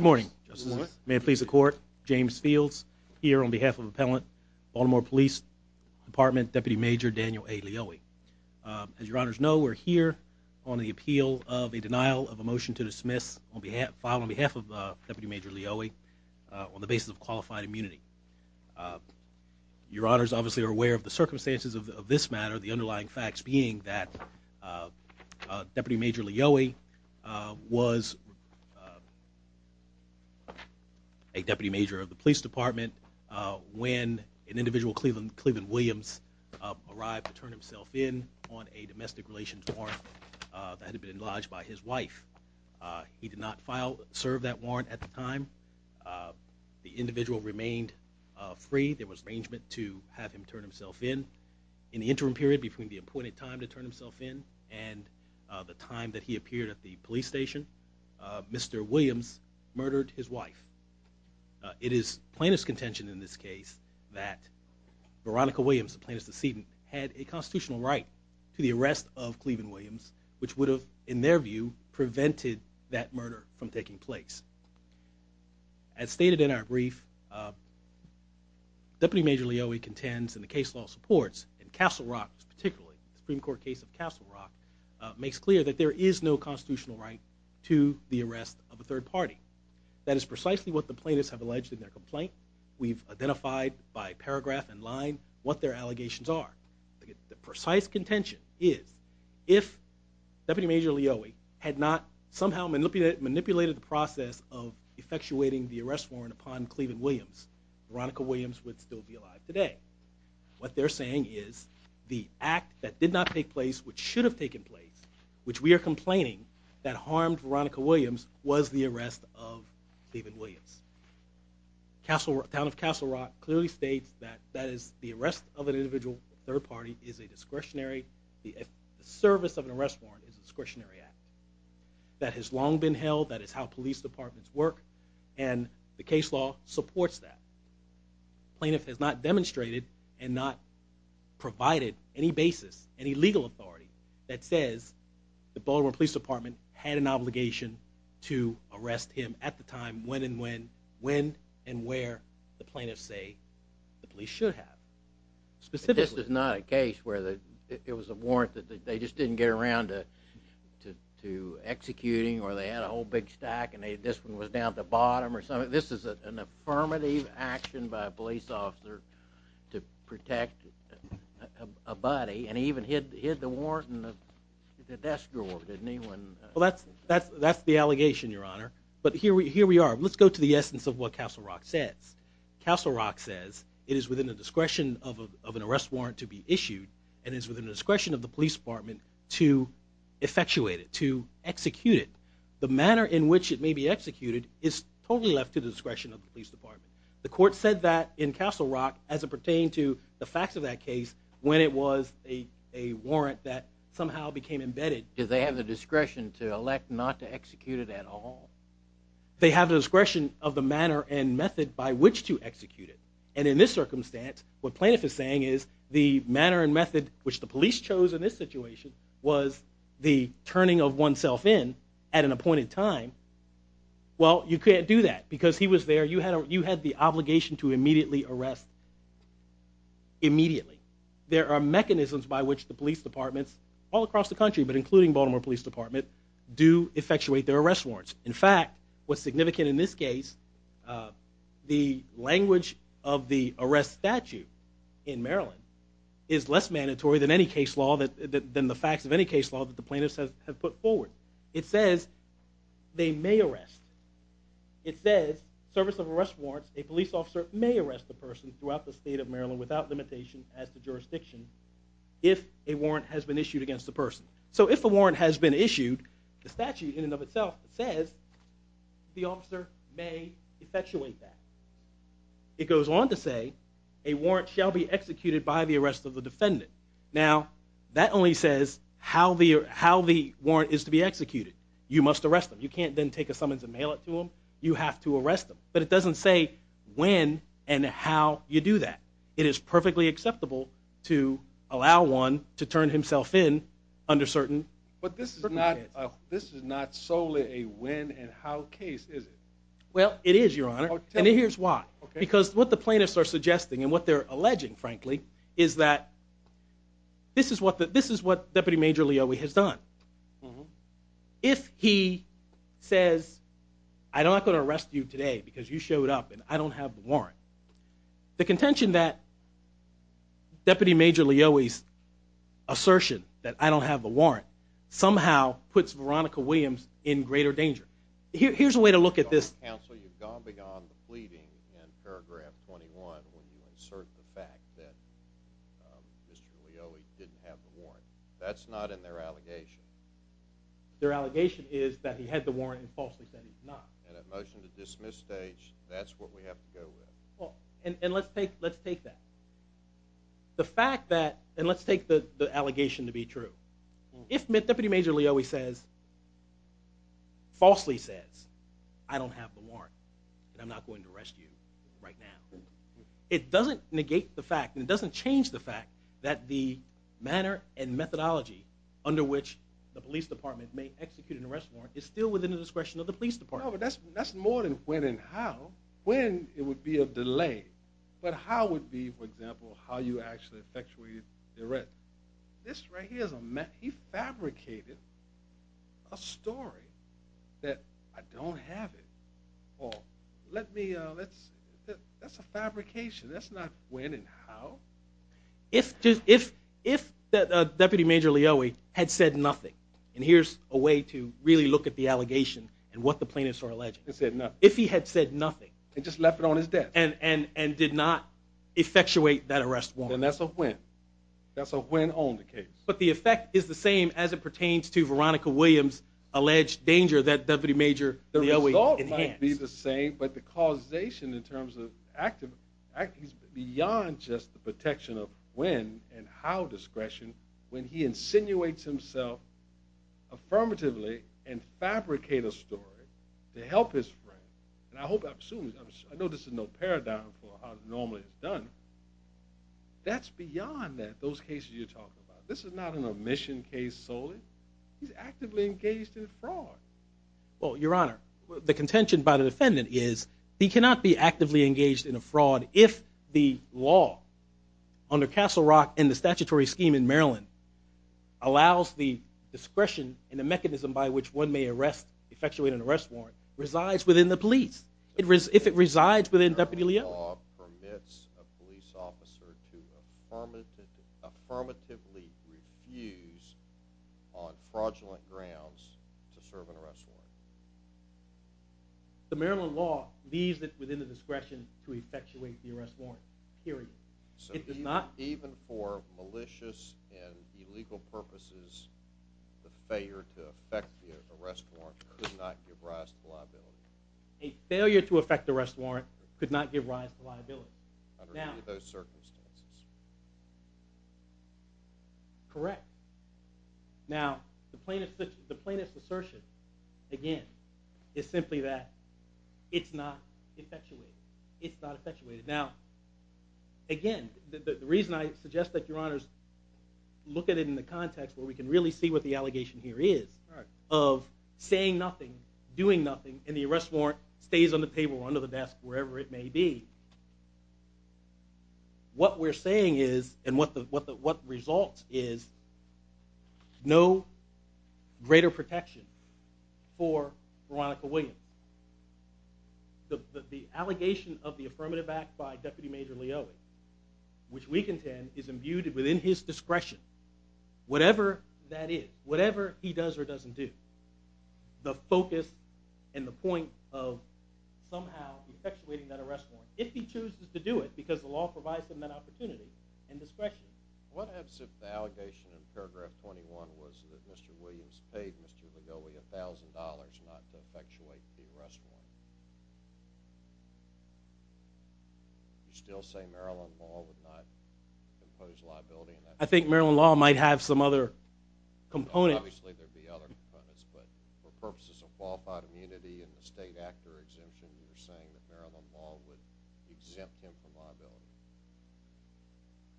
Good morning. May it please the court. James Fields here on behalf of Appellant Baltimore Police Department Deputy Major Daniel A. Lioi. As your honors know, we're here on the appeal of a denial of a motion to dismiss filed on behalf of Deputy Major Lioi on the basis of qualified immunity. Your honors obviously are aware of the circumstances of this matter, the underlying facts being that Deputy Major Lioi was a Deputy Major of the Police Department when an individual, Cleveland Williams, arrived to turn himself in on a domestic relations warrant that had been lodged by his wife. He did not serve that warrant at the time. The individual remained free. There was arrangement to have him turn himself in. In the interim period between the appointed time to turn himself in and the time that he appeared at the police station, Mr. Williams murdered his wife. It is plaintiff's contention in this case that Veronica Williams, the plaintiff's decedent, had a constitutional right to the arrest of Cleveland Williams, which would have, in their view, prevented that murder from taking place. As stated in our brief, Deputy Major Lioi contends and the case law supports, in Castle Rock particularly, the Supreme Court case of Castle Rock, makes clear that there is no constitutional right to the arrest of a third party. That is precisely what the plaintiffs have alleged in their complaint. We've identified by paragraph and line what their allegations are. The precise contention is if Deputy Major Lioi had not somehow manipulated the process of effectuating the arrest warrant upon Cleveland Williams, Veronica Williams would still be alive today. What they're saying is the act that did not take place, which should have taken place, which we are complaining that harmed Veronica Williams, was the arrest of Cleveland Williams. Town of Castle Rock clearly states that the arrest of an individual, a third party, is a discretionary, the service of an arrest warrant is a discretionary act. That has long been held, that is how police departments work, and the case law supports that. The plaintiff has not demonstrated and not provided any basis, any legal authority that says the Baltimore Police Department had an obligation to arrest him at the time, when and where the plaintiffs say the police should have. This is not a case where it was a warrant that they just didn't get around to executing, or they had a whole big stack and this one was down at the bottom. This is an affirmative action by a police officer to protect a body, and he even hid the warrant in the desk drawer, didn't he? That's the allegation, Your Honor. But here we are. Let's go to the essence of what Castle Rock says. Castle Rock says it is within the discretion of an arrest warrant to be issued, and it is within the discretion of the police department to effectuate it, to execute it. The manner in which it may be executed is totally left to the discretion of the police department. The court said that in Castle Rock as it pertained to the facts of that case when it was a warrant that somehow became embedded. Did they have the discretion to elect not to execute it at all? They have the discretion of the manner and method by which to execute it. And in this circumstance, what plaintiff is saying is the manner and method which the police chose in this situation was the turning of oneself in at an appointed time. Well, you can't do that because he was there. You had the obligation to immediately arrest immediately. There are mechanisms by which the police departments all across the country, but including Baltimore Police Department, do effectuate their arrest warrants. In fact, what's significant in this case, the language of the arrest statute in Maryland is less mandatory than the facts of any case law that the plaintiffs have put forward. It says they may arrest. It says service of arrest warrants, a police officer may arrest a person throughout the state of Maryland without limitation as to jurisdiction if a warrant has been issued against the person. So if a warrant has been issued, the statute in and of itself says the officer may effectuate that. It goes on to say a warrant shall be executed by the arrest of the defendant. Now, that only says how the warrant is to be executed. You must arrest them. You can't then take a summons and mail it to them. You have to arrest them, but it doesn't say when and how you do that. It is perfectly acceptable to allow one to turn himself in under certain circumstances. But this is not solely a when and how case, is it? Well, it is, Your Honor, and here's why. Because what the plaintiffs are suggesting and what they're alleging, frankly, is that this is what Deputy Major Leoie has done. If he says, I'm not going to arrest you today because you showed up and I don't have the warrant, the contention that Deputy Major Leoie's assertion that I don't have the warrant somehow puts Veronica Williams in greater danger. Here's a way to look at this. Counsel, you've gone beyond the pleading in paragraph 21 when you insert the fact that Mr. Leoie didn't have the warrant. That's not in their allegation. Their allegation is that he had the warrant and falsely said he did not. And at motion to dismiss stage, that's what we have to go with. And let's take that. The fact that, and let's take the allegation to be true. If Deputy Major Leoie falsely says, I don't have the warrant and I'm not going to arrest you right now, it doesn't negate the fact and it doesn't change the fact that the manner and methodology under which the police department may execute an arrest warrant is still within the discretion of the police department. No, but that's more than when and how. When, it would be a delay. But how would be, for example, how you actually effectuated the arrest. This right here, he fabricated a story that I don't have it. Paul, let me, that's a fabrication. That's not when and how. If Deputy Major Leoie had said nothing, and here's a way to really look at the allegation and what the plaintiffs are alleging. If he had said nothing. And just left it on his desk. And did not effectuate that arrest warrant. Then that's a win. That's a win on the case. But the effect is the same as it pertains to Veronica Williams' alleged danger that Deputy Major Leoie enhanced. But the causation in terms of, beyond just the protection of when and how discretion. When he insinuates himself affirmatively and fabricated a story to help his friend. And I hope, I know this is no paradigm for how it normally is done. That's beyond that, those cases you're talking about. This is not an omission case solely. He's actively engaged in fraud. Well, Your Honor, the contention by the defendant is he cannot be actively engaged in a fraud if the law. Under Castle Rock and the statutory scheme in Maryland. Allows the discretion and the mechanism by which one may arrest, effectuate an arrest warrant. Resides within the police. If it resides within Deputy Leoie. Permits a police officer to affirmatively refuse on fraudulent grounds to serve an arrest warrant. The Maryland law leaves it within the discretion to effectuate the arrest warrant. Period. It does not. Even for malicious and illegal purposes. The failure to effect the arrest warrant could not give rise to liability. A failure to effect the arrest warrant could not give rise to liability. Under any of those circumstances. Correct. Now, the plaintiff's assertion, again, is simply that it's not effectuated. It's not effectuated. Now, again, the reason I suggest that Your Honors look at it in the context where we can really see what the allegation here is. Of saying nothing. Doing nothing. And the arrest warrant stays on the table, under the desk, wherever it may be. What we're saying is and what results is no greater protection for Veronica Williams. The allegation of the affirmative act by Deputy Major Leoie. Which we contend is imbued within his discretion. Whatever that is. Whatever he does or doesn't do. The focus and the point of somehow effectuating that arrest warrant. If he chooses to do it. Because the law provides him that opportunity and discretion. What happens if the allegation in paragraph 21 was that Mr. Williams paid Mr. Leoie $1,000 not to effectuate the arrest warrant? Do you still say Maryland law would not impose liability on that? I think Maryland law might have some other components. Obviously there would be other components. But for purposes of qualified immunity and the state actor exemption, you're saying that Maryland law would exempt him from liability?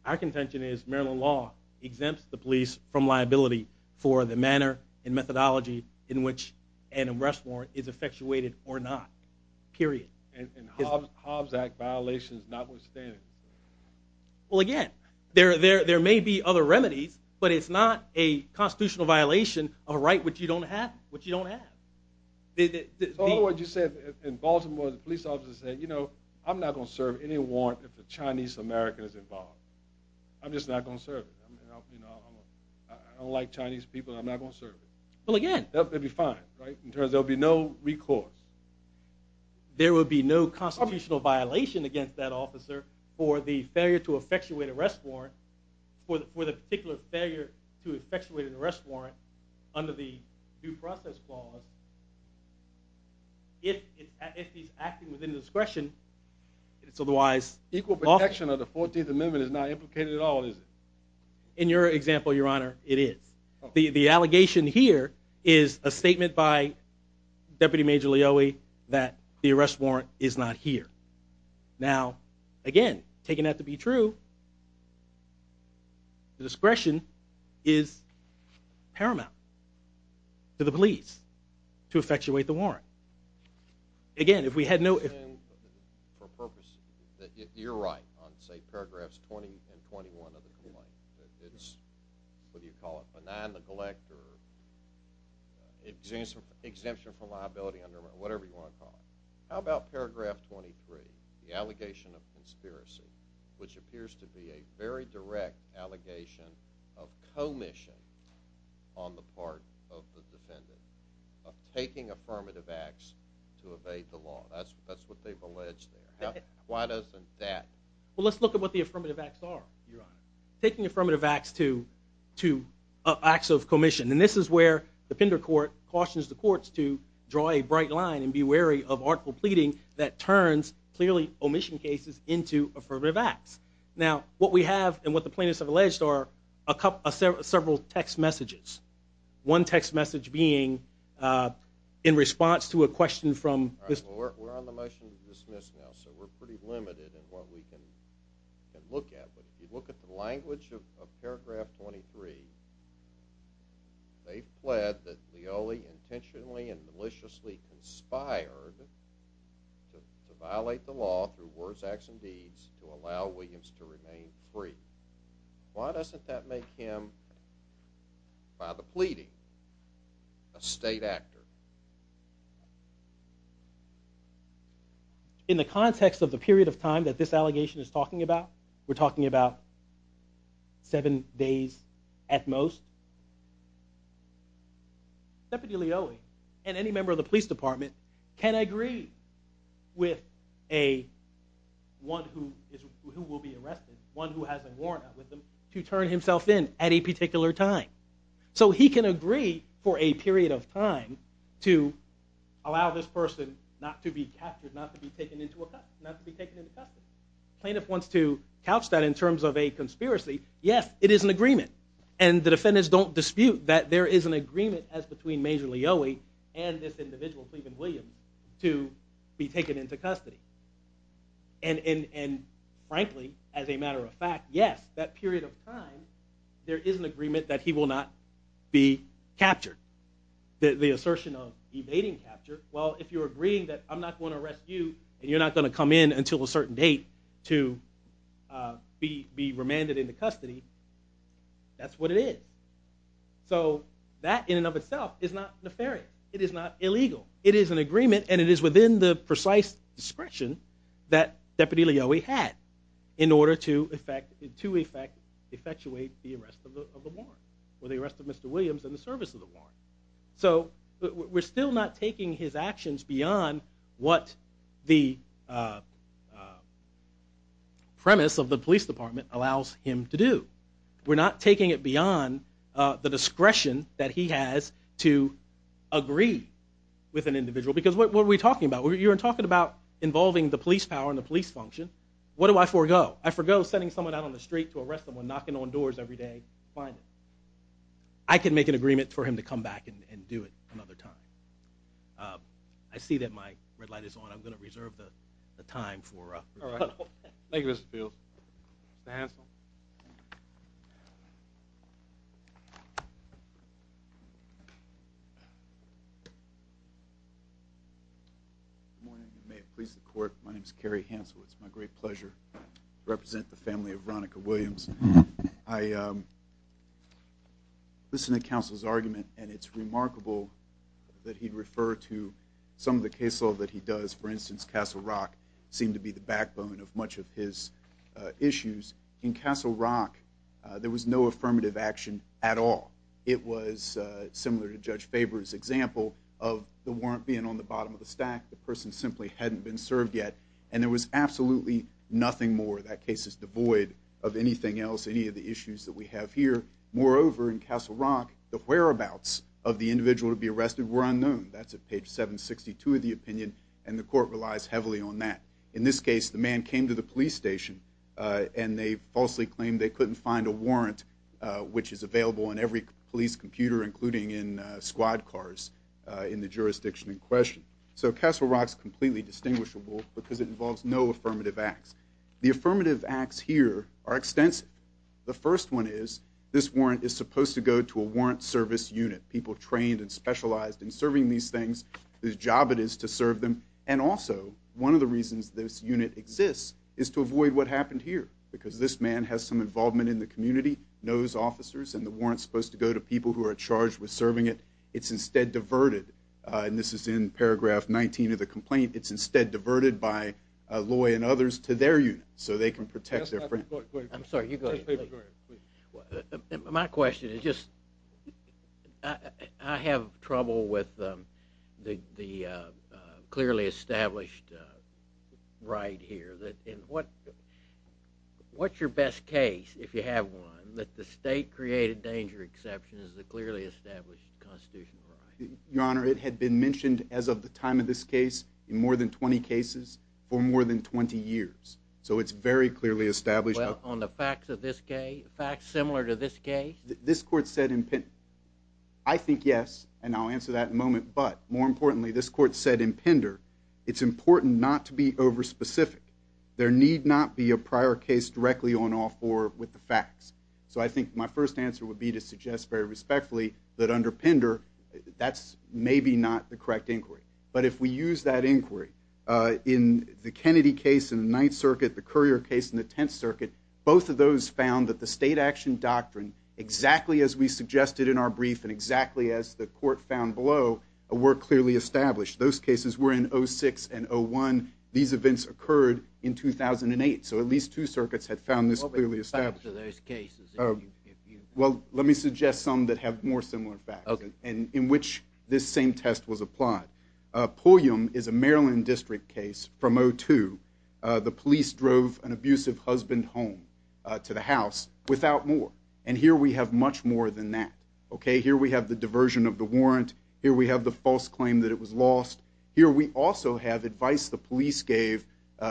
Our contention is Maryland law exempts the police from liability for the manner and methodology in which an arrest warrant is effectuated or not. Period. And Hobbs Act violations notwithstanding. Well again, there may be other remedies. But it's not a constitutional violation of a right which you don't have. In other words, you said in Baltimore the police officer said, you know, I'm not going to serve any warrant if a Chinese American is involved. I'm just not going to serve it. I don't like Chinese people. I'm not going to serve it. Well again. They'll be fine. There will be no recourse. There will be no constitutional violation against that officer for the failure to effectuate an arrest warrant. For the particular failure to effectuate an arrest warrant under the due process clause. If he's acting within discretion. Equal protection of the 14th Amendment is not implicated at all, is it? In your example, your honor, it is. The allegation here is a statement by Deputy Major Leoe that the arrest warrant is not here. Now, again, taking that to be true. Discretion is paramount to the police to effectuate the warrant. Again, if we had no... You're right on say paragraphs 20 and 21 of the complaint. It's, what do you call it, benign neglect or exemption from liability, whatever you want to call it. How about paragraph 23? The allegation of conspiracy, which appears to be a very direct allegation of commission on the part of the defendant. Of taking affirmative acts to evade the law. That's what they've alleged there. Why doesn't that... Well, let's look at what the affirmative acts are. Taking affirmative acts to acts of commission. And this is where the Pender Court cautions the courts to draw a bright line and be wary of article pleading that turns clearly omission cases into affirmative acts. Now, what we have and what the plaintiffs have alleged are several text messages. One text message being in response to a question from... We're on the motion to dismiss now, so we're pretty limited in what we can look at. But if you look at the language of paragraph 23, they've pled that Leoli intentionally and maliciously conspired to violate the law through worse acts and deeds to allow Williams to remain free. Why doesn't that make him, by the pleading, a state actor? In the context of the period of time that this allegation is talking about, we're talking about seven days at most, Deputy Leoli and any member of the police department can agree with one who will be arrested, one who has a warrant out with them, to turn himself in at a particular time. So he can agree for a period of time to allow this person not to be captured, not to be taken into custody. The plaintiff wants to couch that in terms of a conspiracy. Yes, it is an agreement, and the defendants don't dispute that there is an agreement as between Major Leoli and this individual, Cleveland Williams, to be taken into custody. And frankly, as a matter of fact, yes, that period of time, there is an agreement that he will not be captured. The assertion of evading capture, well, if you're agreeing that I'm not going to arrest you, and you're not going to come in until a certain date to be remanded into custody, that's what it is. So that in and of itself is not nefarious. It is not illegal. It is an agreement, and it is within the precise discretion that Deputy Leoli had in order to effectuate the arrest of the warrant, or the arrest of Mr. Williams in the service of the warrant. So we're still not taking his actions beyond what the premise of the police department allows him to do. We're not taking it beyond the discretion that he has to agree with an individual. Because what were we talking about? You were talking about involving the police power and the police function. What do I forego? I forego sending someone out on the street to arrest someone, knocking on doors every day to find him. I can make an agreement for him to come back and do it another time. I see that my red light is on. I'm going to reserve the time for a rebuttal. Thank you, Mr. Fields. Mr. Hansel? Good morning. May it please the court, my name is Kerry Hansel. It's my great pleasure to represent the family of Veronica Williams. I listened to counsel's argument, and it's remarkable that he'd refer to some of the case law that he does. For instance, Castle Rock seemed to be the backbone of much of his issues. In Castle Rock, there was no affirmative action at all. It was similar to Judge Faber's example of the warrant being on the bottom of the stack, the person simply hadn't been served yet, and there was absolutely nothing more. That case is devoid of anything else, any of the issues that we have here. Moreover, in Castle Rock, the whereabouts of the individual to be arrested were unknown. That's at page 762 of the opinion, and the court relies heavily on that. In this case, the man came to the police station, and they falsely claimed they couldn't find a warrant which is available in every police computer, including in squad cars in the jurisdiction in question. So Castle Rock's completely distinguishable because it involves no affirmative acts. The affirmative acts here are extensive. The first one is, this warrant is supposed to go to a warrant service unit, people trained and specialized in serving these things, whose job it is to serve them. And also, one of the reasons this unit exists is to avoid what happened here, because this man has some involvement in the community, knows officers, and the warrant's supposed to go to people who are charged with serving it. It's instead diverted, and this is in paragraph 19 of the complaint, it's instead diverted by Loy and others to their unit, so they can protect their friend. I'm sorry, you go ahead. My question is just, I have trouble with the clearly established right here. What's your best case, if you have one, that the state created danger exception as the clearly established constitutional right? Your Honor, it had been mentioned as of the time of this case, in more than 20 cases, for more than 20 years. So it's very clearly established. Well, on the facts of this case, facts similar to this case? This court said, I think yes, and I'll answer that in a moment, but more importantly, this court said in Pender, it's important not to be over-specific. There need not be a prior case directly on or with the facts. So I think my first answer would be to suggest very respectfully, that under Pender, that's maybe not the correct inquiry. But if we use that inquiry, in the Kennedy case in the Ninth Circuit, the Currier case in the Tenth Circuit, both of those found that the state action doctrine, exactly as we suggested in our brief, and exactly as the court found below, were clearly established. Those cases were in 06 and 01. These events occurred in 2008. So at least two circuits had found this clearly established. What were the facts of those cases? Well, let me suggest some that have more similar facts, in which this same test was applied. Pulliam is a Maryland district case from 02. The police drove an abusive husband home to the house without more. And here we have much more than that. Okay, here we have the diversion of the warrant. Here we have the false claim that it was lost. Here we also have advice the police gave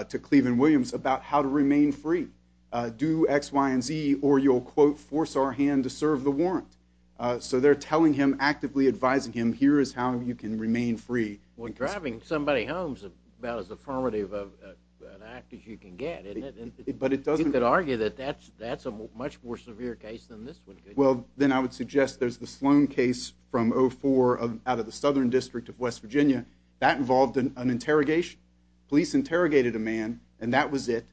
to Cleveland Williams about how to remain free. Do X, Y, and Z, or you'll, quote, force our hand to serve the warrant. So they're telling him, actively advising him, here is how you can remain free. Well, driving somebody home is about as affirmative of an act as you can get. But it doesn't... You could argue that that's a much more severe case than this one could. Well, then I would suggest there's the Sloan case from 04, out of the Southern District of West Virginia. That involved an interrogation. Police interrogated a man, and that was it.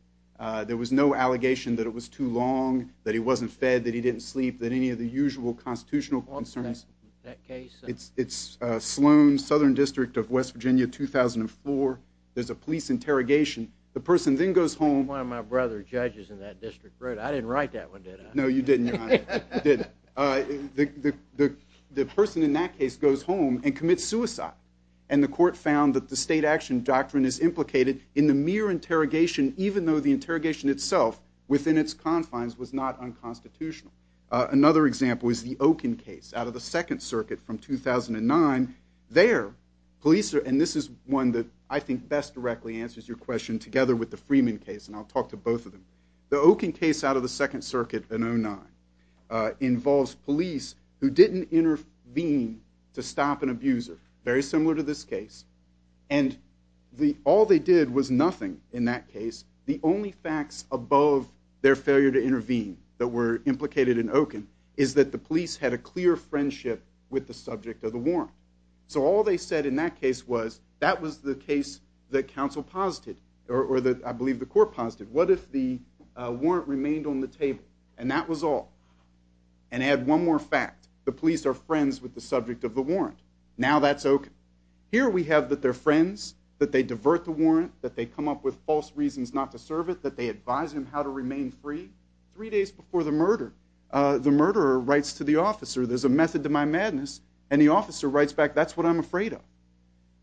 There was no allegation that it was too long, that he wasn't fed, that he didn't sleep, that any of the usual constitutional concerns... That case? It's Sloan, Southern District of West Virginia, 2004. There's a police interrogation. The person then goes home... One of my brother's judges in that district wrote it. I didn't write that one, did I? No, you didn't, your honor. The person in that case goes home and commits suicide. And the court found that the state action doctrine is implicated in the mere interrogation, even though the interrogation itself, within its confines, was not unconstitutional. Another example is the Okun case, out of the Second Circuit from 2009. There, police are... And this is one that I think best directly answers your question, together with the Freeman case, and I'll talk to both of them. The Okun case out of the Second Circuit in 09 involves police who didn't intervene to stop an abuser, very similar to this case. And all they did was nothing in that case. The only facts above their failure to intervene that were implicated in Okun is that the police had a clear friendship with the subject of the warrant. So all they said in that case was, that was the case that counsel posited, or I believe the court posited. What if the warrant remained on the table? And that was all. And add one more fact. The police are friends with the subject of the warrant. Now that's Okun. Here we have that they're friends, that they divert the warrant, that they come up with false reasons not to serve it, that they advise him how to remain free. Three days before the murder, the murderer writes to the officer, there's a method to my madness, and the officer writes back, that's what I'm afraid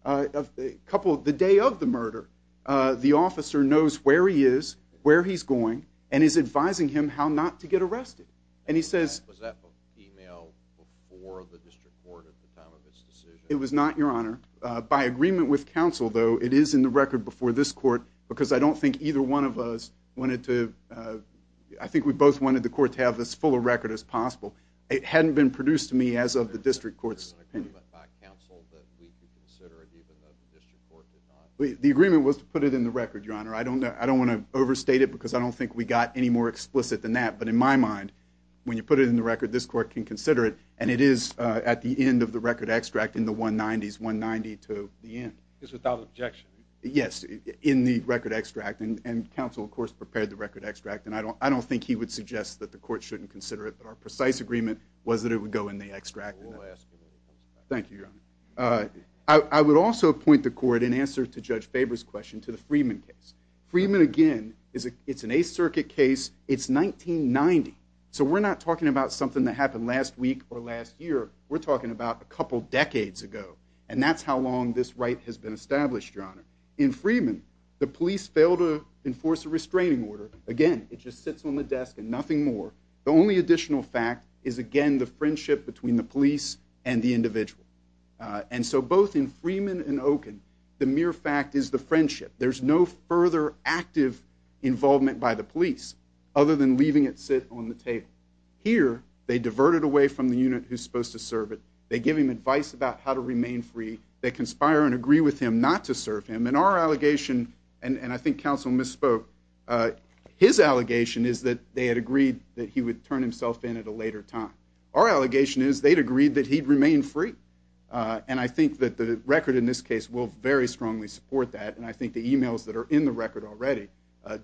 of. The day of the murder, the officer knows where he is, where he's going, and is advising him how not to get arrested. And he says... Was that a female before the district court at the time of this decision? It was not, Your Honor. By agreement with counsel, though, it is in the record before this court, because I don't think either one of us wanted to... I think we both wanted the court to have as full a record as possible. It hadn't been produced to me as of the district court's... By agreement by counsel, that we could consider it even though the district court did not... The agreement was to put it in the record, Your Honor. I don't want to overstate it, because I don't think we got any more explicit than that. But in my mind, when you put it in the record, this court can consider it, and it is at the end of the record extract, in the 190s, 190 to the end. Just without objection? Yes, in the record extract. And counsel, of course, prepared the record extract. And I don't think he would suggest that the court shouldn't consider it. But our precise agreement was that it would go in the extract. We'll ask when it comes back. Thank you, Your Honor. I would also point the court, in answer to Judge Faber's question, to the Freeman case. Freeman, again, it's an Eighth Circuit case. It's 1990. So we're not talking about something that happened decades ago. And that's how long this right has been established, Your Honor. In Freeman, the police failed to enforce a restraining order. Again, it just sits on the desk and nothing more. The only additional fact is, again, the friendship between the police and the individual. And so both in Freeman and Oken, the mere fact is the friendship. There's no further active involvement by the police, other than leaving it sit on the table. Here, they divert it away from the unit who's supposed to serve it. They give him advice about how to remain free. They conspire and agree with him not to serve him. And our allegation, and I think counsel misspoke, his allegation is that they had agreed that he would turn himself in at a later time. Our allegation is they'd agreed that he'd remain free. And I think that the record in this case will very strongly support that. And I think the emails that are in the record already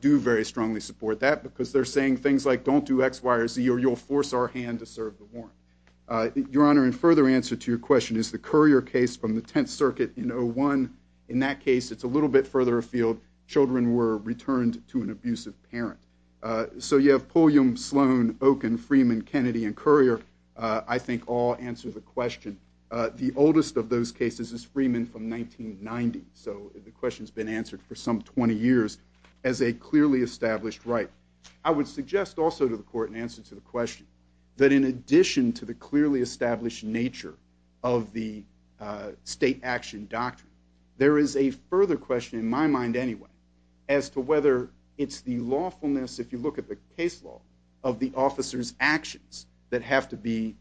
do very strongly support that, because they're saying things like, don't do X, Y, or Z, or you'll force our hand to serve the warrant. The other answer to your question is the Currier case from the 10th Circuit in 01. In that case, it's a little bit further afield. Children were returned to an abusive parent. So you have Pulliam, Sloan, Oken, Freeman, Kennedy, and Currier, I think all answer the question. The oldest of those cases is Freeman from 1990. So the question's been answered for some 20 years as a clearly established right. I would suggest also to the court in answer to the question, that in addition to the clearly established nature of the state action doctrine, there is a further question in my mind anyway as to whether it's the lawfulness, if you look at the case law, of the officer's actions that has to be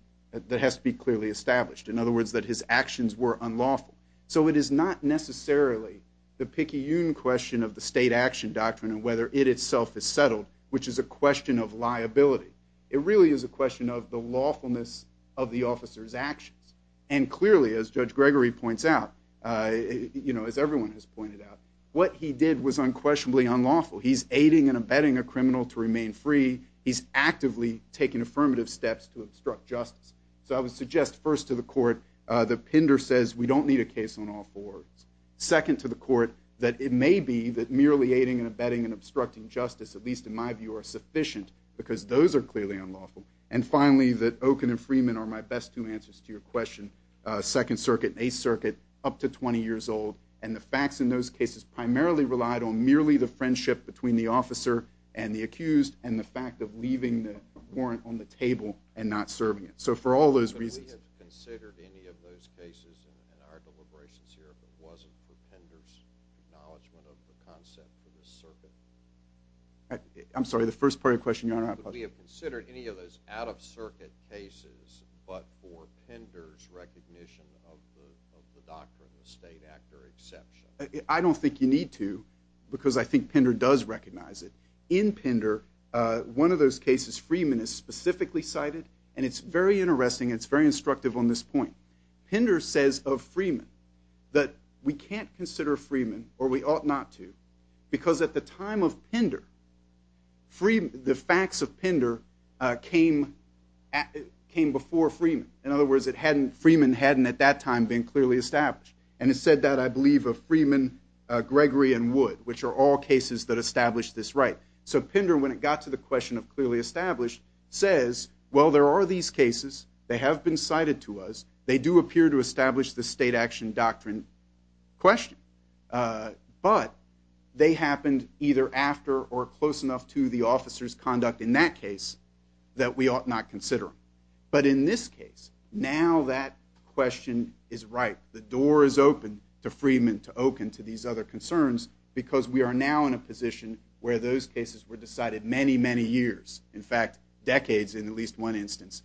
clearly established. In other words, that his actions were unlawful. So it is not necessarily the picayune question of the state action doctrine and whether it itself is settled, which is a question of liability. It really is a question of the lawfulness of the officer's actions. And clearly, as Judge Gregory points out, as everyone has pointed out, what he did was unquestionably unlawful. He's aiding and abetting a criminal to remain free. He's actively taking affirmative steps to obstruct justice. So I would suggest first to the court that Pinder says we don't need a case on all fours. Second to the court, that it may be that merely aiding and abetting and obstructing justice, at least in my view, are sufficient because those are clearly unlawful. And finally, that Okun and Freeman are my best two answers to your question. Second Circuit and Eighth Circuit, up to 20 years old, and the facts in those cases primarily relied on merely the friendship between the officer and the accused and the fact of leaving the warrant on the table and not serving it. So for all those reasons... But we have considered any of those cases in our deliberations here if it wasn't for Pinder's acknowledgement of the concept of the circuit. I'm sorry, the first part of your question, out-of-circuit cases, but for Pinder's recognition of the doctrine, the state actor exception. I don't think you need to because I think Pinder does recognize it. In Pinder, one of those cases, Freeman is specifically cited and it's very interesting and it's very instructive on this point. Pinder says of Freeman or we ought not to because at the time of Pinder, the facts of Pinder came before Freeman. In other words, Freeman hadn't at that time been clearly established. And it said that, I believe, of Freeman, Gregory, and Wood, which are all cases that establish this right. So Pinder, when it got to the question of clearly established, says, well, there are these cases, they have been cited to us, they do appear to establish the state action doctrine question. But they happened either after or we ought not consider them. But in this case, now that question is right. The door is open to Freeman, to Okun, to these other concerns because we are now in a position where those cases were decided many, many years. In fact, decades in at least one instance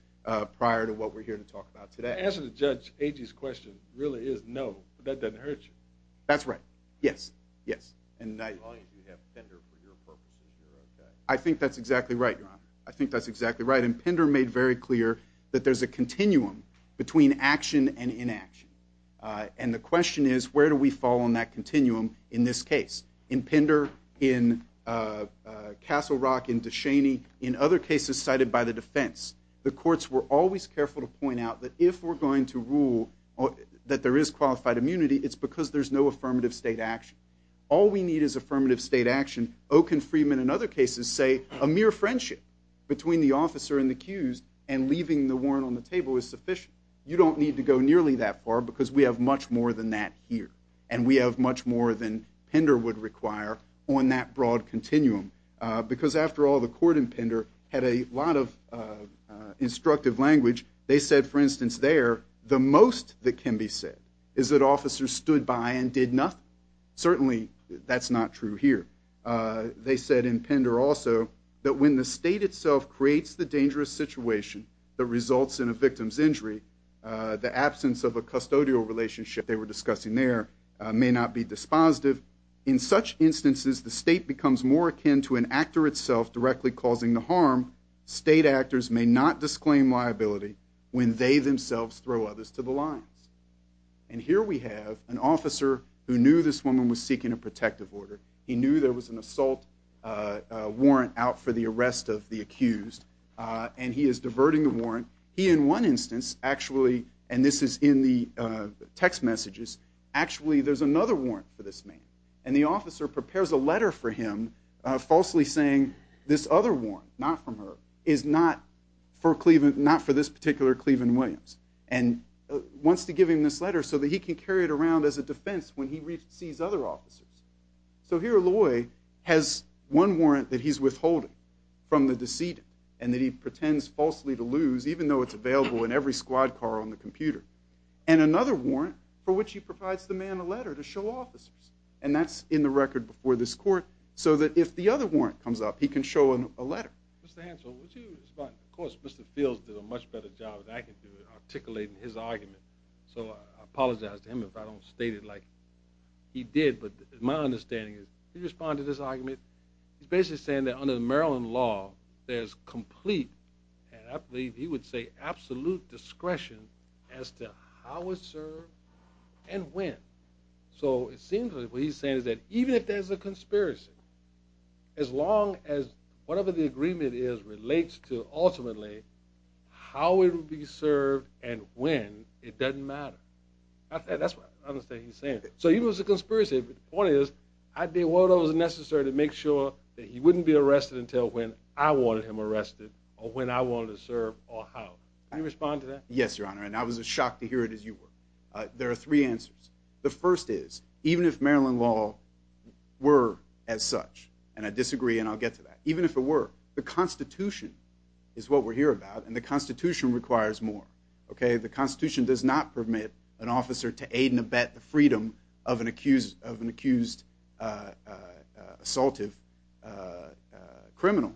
prior to what we're here to talk about today. To answer the judge, A.G.'s question really is no, but that doesn't hurt you. That's right, yes, yes. As long as you have Pinder made very clear that there's a continuum between action and inaction. And the question is, where do we fall on that continuum in this case? In Pinder, in Castle Rock, in DeShaney, in other cases cited by the defense, the courts were always careful to point out that if we're going to rule that there is qualified immunity, it's because there's no affirmative state action. All we need is affirmative state action. Okun, Freeman, and other cases say a mere friendship between the officer and the accused and leaving the warrant on the table is sufficient. You don't need to go nearly that far because we have much more than that here. And we have much more than Pinder would require on that broad continuum. Because after all, the court in Pinder had a lot of instructive language. They said, for instance, there, the most that can be said is that officers stood by and did nothing. Certainly, that's not true here. They also said that when the state itself creates the dangerous situation that results in a victim's injury, the absence of a custodial relationship they were discussing there may not be dispositive. In such instances, the state becomes more akin to an actor itself directly causing the harm. State actors may not disclaim liability when they themselves throw others to the lines. And here we have an officer who knew this woman had a warrant out for the arrest of the accused. And he is diverting the warrant. He, in one instance, actually, and this is in the text messages, actually there's another warrant for this man. And the officer prepares a letter for him falsely saying this other warrant, not from her, is not for this particular Cleveland Williams. And wants to give him this letter so that he can carry it around as a defense when he sees other officers. So here Loy has one warrant that he's withholding from the decedent and that he pretends falsely to lose even though it's available in every squad car on the computer. And another warrant for which he provides the man a letter to show officers. And that's in the record before this court so that if the other warrant comes up he can show a letter. Mr. Hansel, would you respond? Of course, Mr. Fields did a much better job than I can do articulating his argument. So I apologize to him if I don't state it like he did. He's saying that under the Maryland law there's complete, and I believe he would say absolute discretion as to how it's served and when. So it seems like what he's saying is that even if there's a conspiracy, as long as whatever the agreement is relates to ultimately how it will be served and when, it doesn't matter. That's what I understand he's saying. So even if it's a conspiracy, he can't be arrested until when I wanted him arrested or when I wanted to serve or how. Can you respond to that? Yes, Your Honor, and I was as shocked to hear it as you were. There are three answers. The first is, even if Maryland law were as such, and I disagree and I'll get to that, even if it were, the Constitution is what we're here about and the Constitution requires more. The Constitution does not permit an officer to aid and abet a criminal.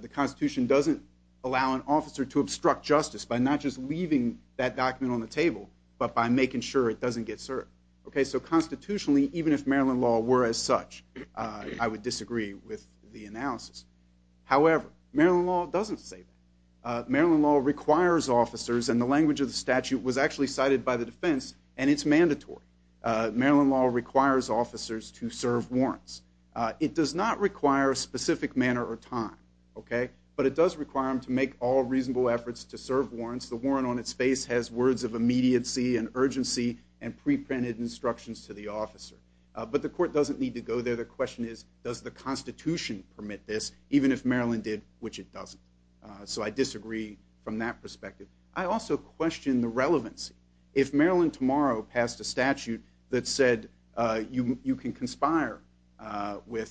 The Constitution doesn't allow an officer to obstruct justice by not just leaving that document on the table but by making sure it doesn't get served. Okay, so constitutionally, even if Maryland law were as such, I would disagree with the analysis. However, Maryland law doesn't say that. Maryland law requires officers and the language of the statute was actually cited by the defense and it's mandatory. Maryland law requires officers to act in a specific manner or time. But it does require them to make all reasonable efforts to serve warrants. The warrant on its face has words of immediacy and urgency and pre-printed instructions to the officer. But the court doesn't need to go there. The question is, does the Constitution permit this even if Maryland did, which it doesn't. So I disagree from that perspective. I also question the relevance. If Maryland tomorrow passed a statute I would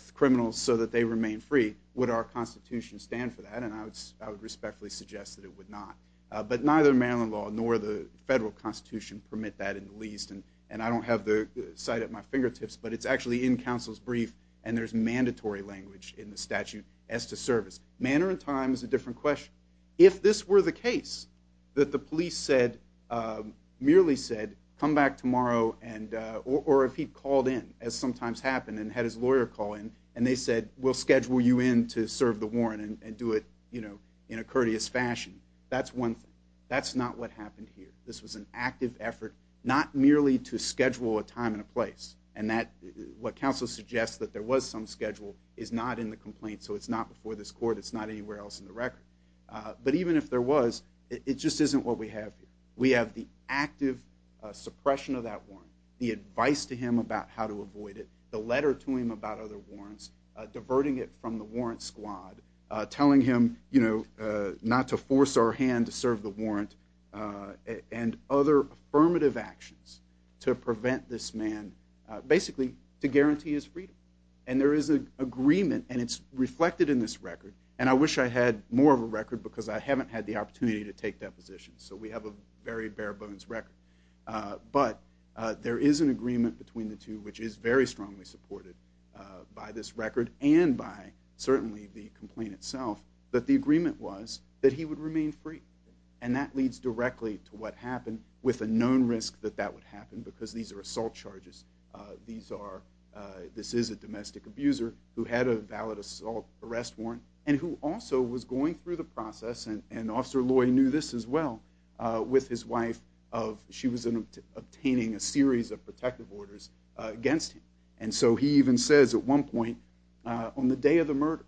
disagree. Would our Constitution stand for that? And I would respectfully suggest that it would not. But neither Maryland law nor the federal Constitution permit that in the least. And I don't have the cite at my fingertips but it's actually in counsel's brief and there's mandatory language in the statute as to service. Manner and time is a different question. If this were the case that the police merely said come back tomorrow and go in to serve the warrant and do it in a courteous fashion. That's one thing. That's not what happened here. This was an active effort not merely to schedule a time and a place. And what counsel suggests that there was some schedule is not in the complaint so it's not before this court it's not anywhere else in the record. But even if there was it just isn't what we have here. We have the active suppression of that warrant the advice to him about how to avoid it the warrant squad telling him not to force our hand to serve the warrant and other affirmative actions to prevent this man basically to guarantee his freedom. And there is an agreement and it's reflected in this record and I wish I had more of a record because I haven't had the opportunity to take that position. So we have a very bare bones record. But there is an agreement between the two which is very strongly supported by this record and by certainly the complaint itself that the agreement was that he would remain free. And that leads directly to what happened with a known risk that that would happen because these are assault charges. This is a domestic abuser who had a valid assault arrest warrant and who also was going through the process and Officer Loy knew this as well with his wife she was obtaining a series of protective orders against him. And so he even says at one point on the day of the murder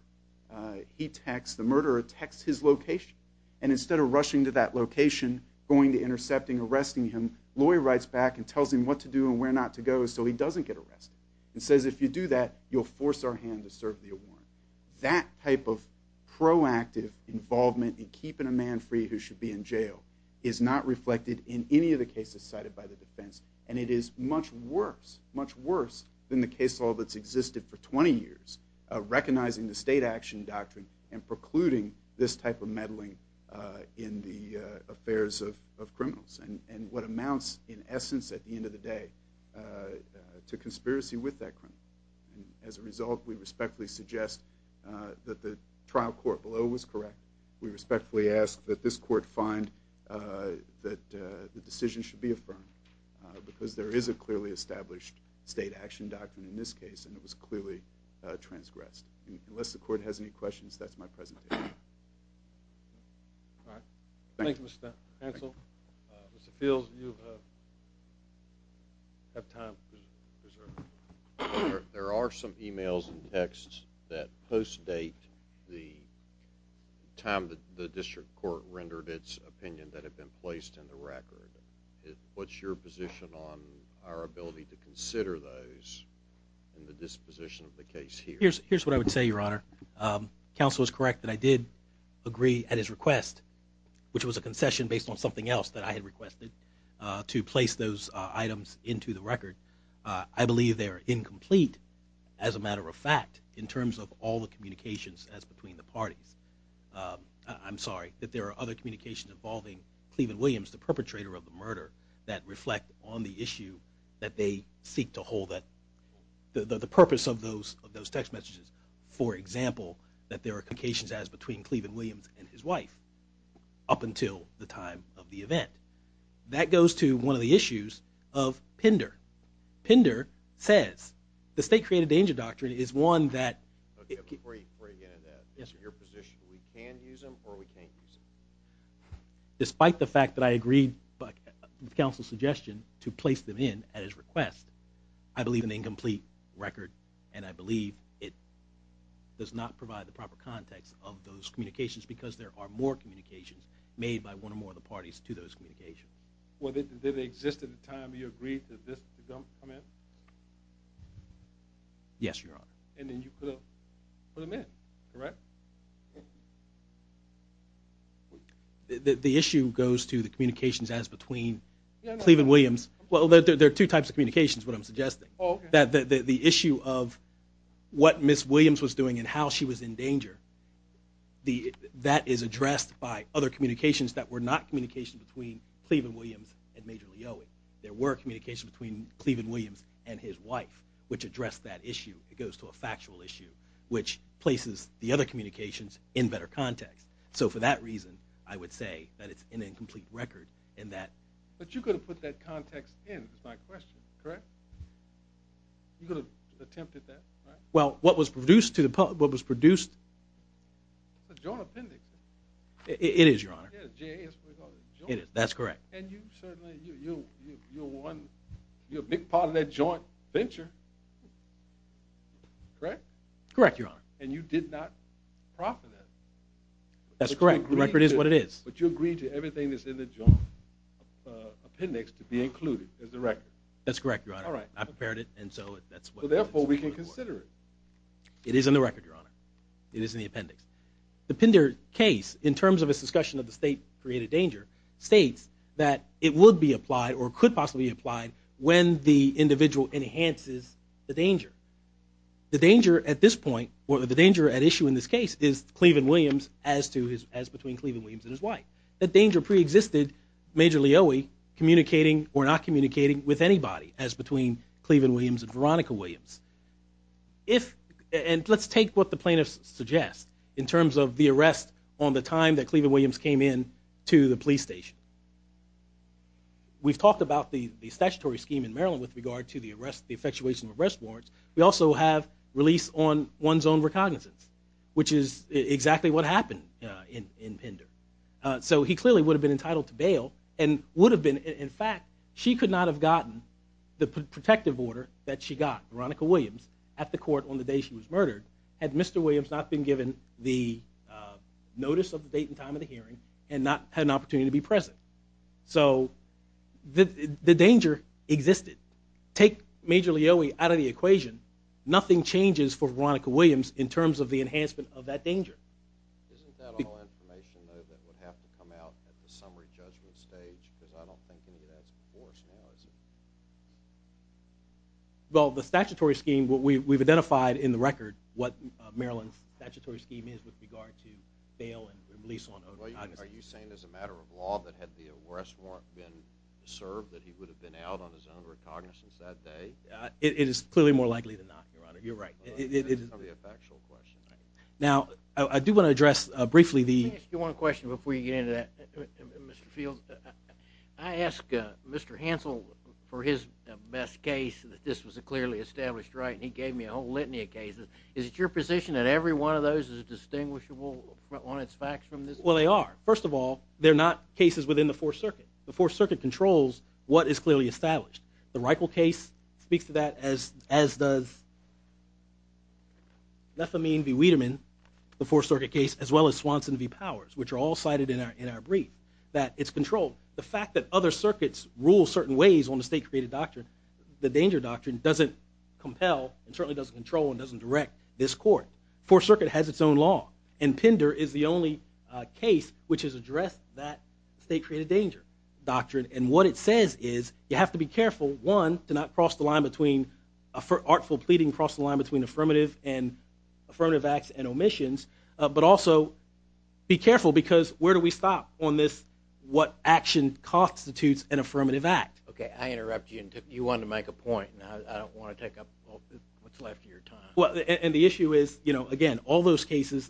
he texts, the murderer texts his location and instead of rushing to that location going to intercepting, arresting him Loy writes back and tells him what to do and where not to go so he doesn't get arrested and says if you do that you'll force our hand to serve the warrant. That type of proactive involvement in keeping a man free who should be in jail is not reflected in any of the cases cited by the defense and it is much worse much worse than the case law that's existed for 20 years recognizing the state action doctrine and precluding this type of meddling in the affairs of criminals and what amounts in essence at the end of the day to conspiracy with that criminal. As a result we respectfully suggest that the trial court although it was correct we respectfully ask that this court find and confirm because there is a clearly established state action doctrine in this case and it was clearly transgressed. Unless the court has any questions that's my presentation. Thank you Mr. Hansel. Mr. Fields you have time. There are some emails and texts that post-date the time the district court rendered its opinion that have been placed in the record. What's your position on our ability to consider those and the disposition of the case here? Here's what I would say your honor. Counsel is correct that I did agree at his request which was a concession based on something else that I had requested to place those items into the record. I believe they are incomplete as a matter of fact in terms of all the communications as between the parties. I'm sorry that there are other communications involving Cleveland Williams the perpetrator of the murder that reflect on the issue that they seek to hold that the purpose of those text messages for example that there are communications as between Cleveland Williams and his wife up until the time of the event. That goes to one of the issues of Pender. Pender says the State Created Danger Doctrine is one that... Before you get into that. Your position. We can use them or we can't use them? Despite the fact that I agreed with counsel's suggestion to place them in at his request I believe an incomplete record and I believe it does not provide the proper context of those communications because there are more communications made by one or more of the parties to come in. Yes, your honor. And then you put them in. Correct? The issue goes to the communications as between Cleveland Williams. There are two types of communications what I'm suggesting. The issue of what Ms. Williams was doing and how she was in danger that is addressed by other communications that were not communications between Cleveland Williams and Major Leowy. There were communications between Cleveland Williams and his wife which addressed that issue. It goes to a factual issue which places the other communications in better context. So for that reason I would say that it's an incomplete record in that... But you could have put that context in is my question. Correct? Well, what was produced to the public... What was produced... It's a joint appendix. It is, your honor. It is, that's correct. And you certainly... You're one... You're a big part of that joint venture. Correct? Correct, your honor. And you did not profit it. That's correct. The record is what it is. But you agreed to everything that's in the joint appendix to be included as the record. That's correct, your honor. I prepared it and so that's what... So therefore we can consider it. It is in the record, your honor. It is in the appendix. The Pinder case in terms of its discussion of the state created danger states that it would be applied or could possibly be applied when the individual enhances the danger. The danger at this point or the danger at issue in this case is Cleveland-Williams as to his... As between Cleveland-Williams and his wife. That danger pre-existed Major Leoie communicating or not communicating with anybody as between Cleveland-Williams and Veronica-Williams. If... And let's take what the plaintiffs suggest in terms of the arrest on the time that Cleveland-Williams came in to the police station. We've talked about the statutory scheme in Maryland with regard to the effectuation of arrest warrants. We also have release on one's own recognizance which is exactly what happened in Pinder. So he clearly would have been entitled to bail and would have been in fact she could not have gotten the protective order that she got Veronica-Williams at the court on the day she was murdered had Mr. Williams not been given the notice of the date and time of the hearing and not had an opportunity to be present. So the danger existed. Take Major Leoie out of the equation nothing changes for Veronica-Williams in terms of the enhancement of that danger. Isn't that all information though that would have to come out at the summary judgment stage because I don't think any of that's before us now is it? Well the statutory scheme we've identified in the record is what Maryland's statutory scheme is with regard to bail and release on own recognizance. Are you saying as a matter of law that had the arrest warrant been served that he would have been out on his own recognizance that day? It is clearly more likely than not Your Honor. You're right. Now I do want to address briefly the Let me ask you one question before you get into that. Mr. Fields I ask Mr. Hansel for his best case that this was a clearly established right and he gave me a whole litany of cases. Is it your position that every one of those is distinguishable on its facts from this? Well they are. First of all they're not cases within the Fourth Circuit. The Fourth Circuit controls what is clearly established. The Reichel case speaks to that as does Lethamine v. Wiedemann the Fourth Circuit case as well as Swanson v. Powers which are all cited in our brief. That it's controlled. The fact that other circuits rule certain ways on the state created doctrine the danger doctrine doesn't compel and certainly doesn't control and doesn't direct this court. The Fourth Circuit has its own law and Pender is the only case which has addressed that state created danger doctrine and what it says is you have to be careful to not cross the line between artful pleading and affirmative acts and omissions but also be careful because where do we stop on this what action constitutes an affirmative act. I interrupt you and you wanted to make a point and I don't want to take up what's left of your time. The issue is again all those cases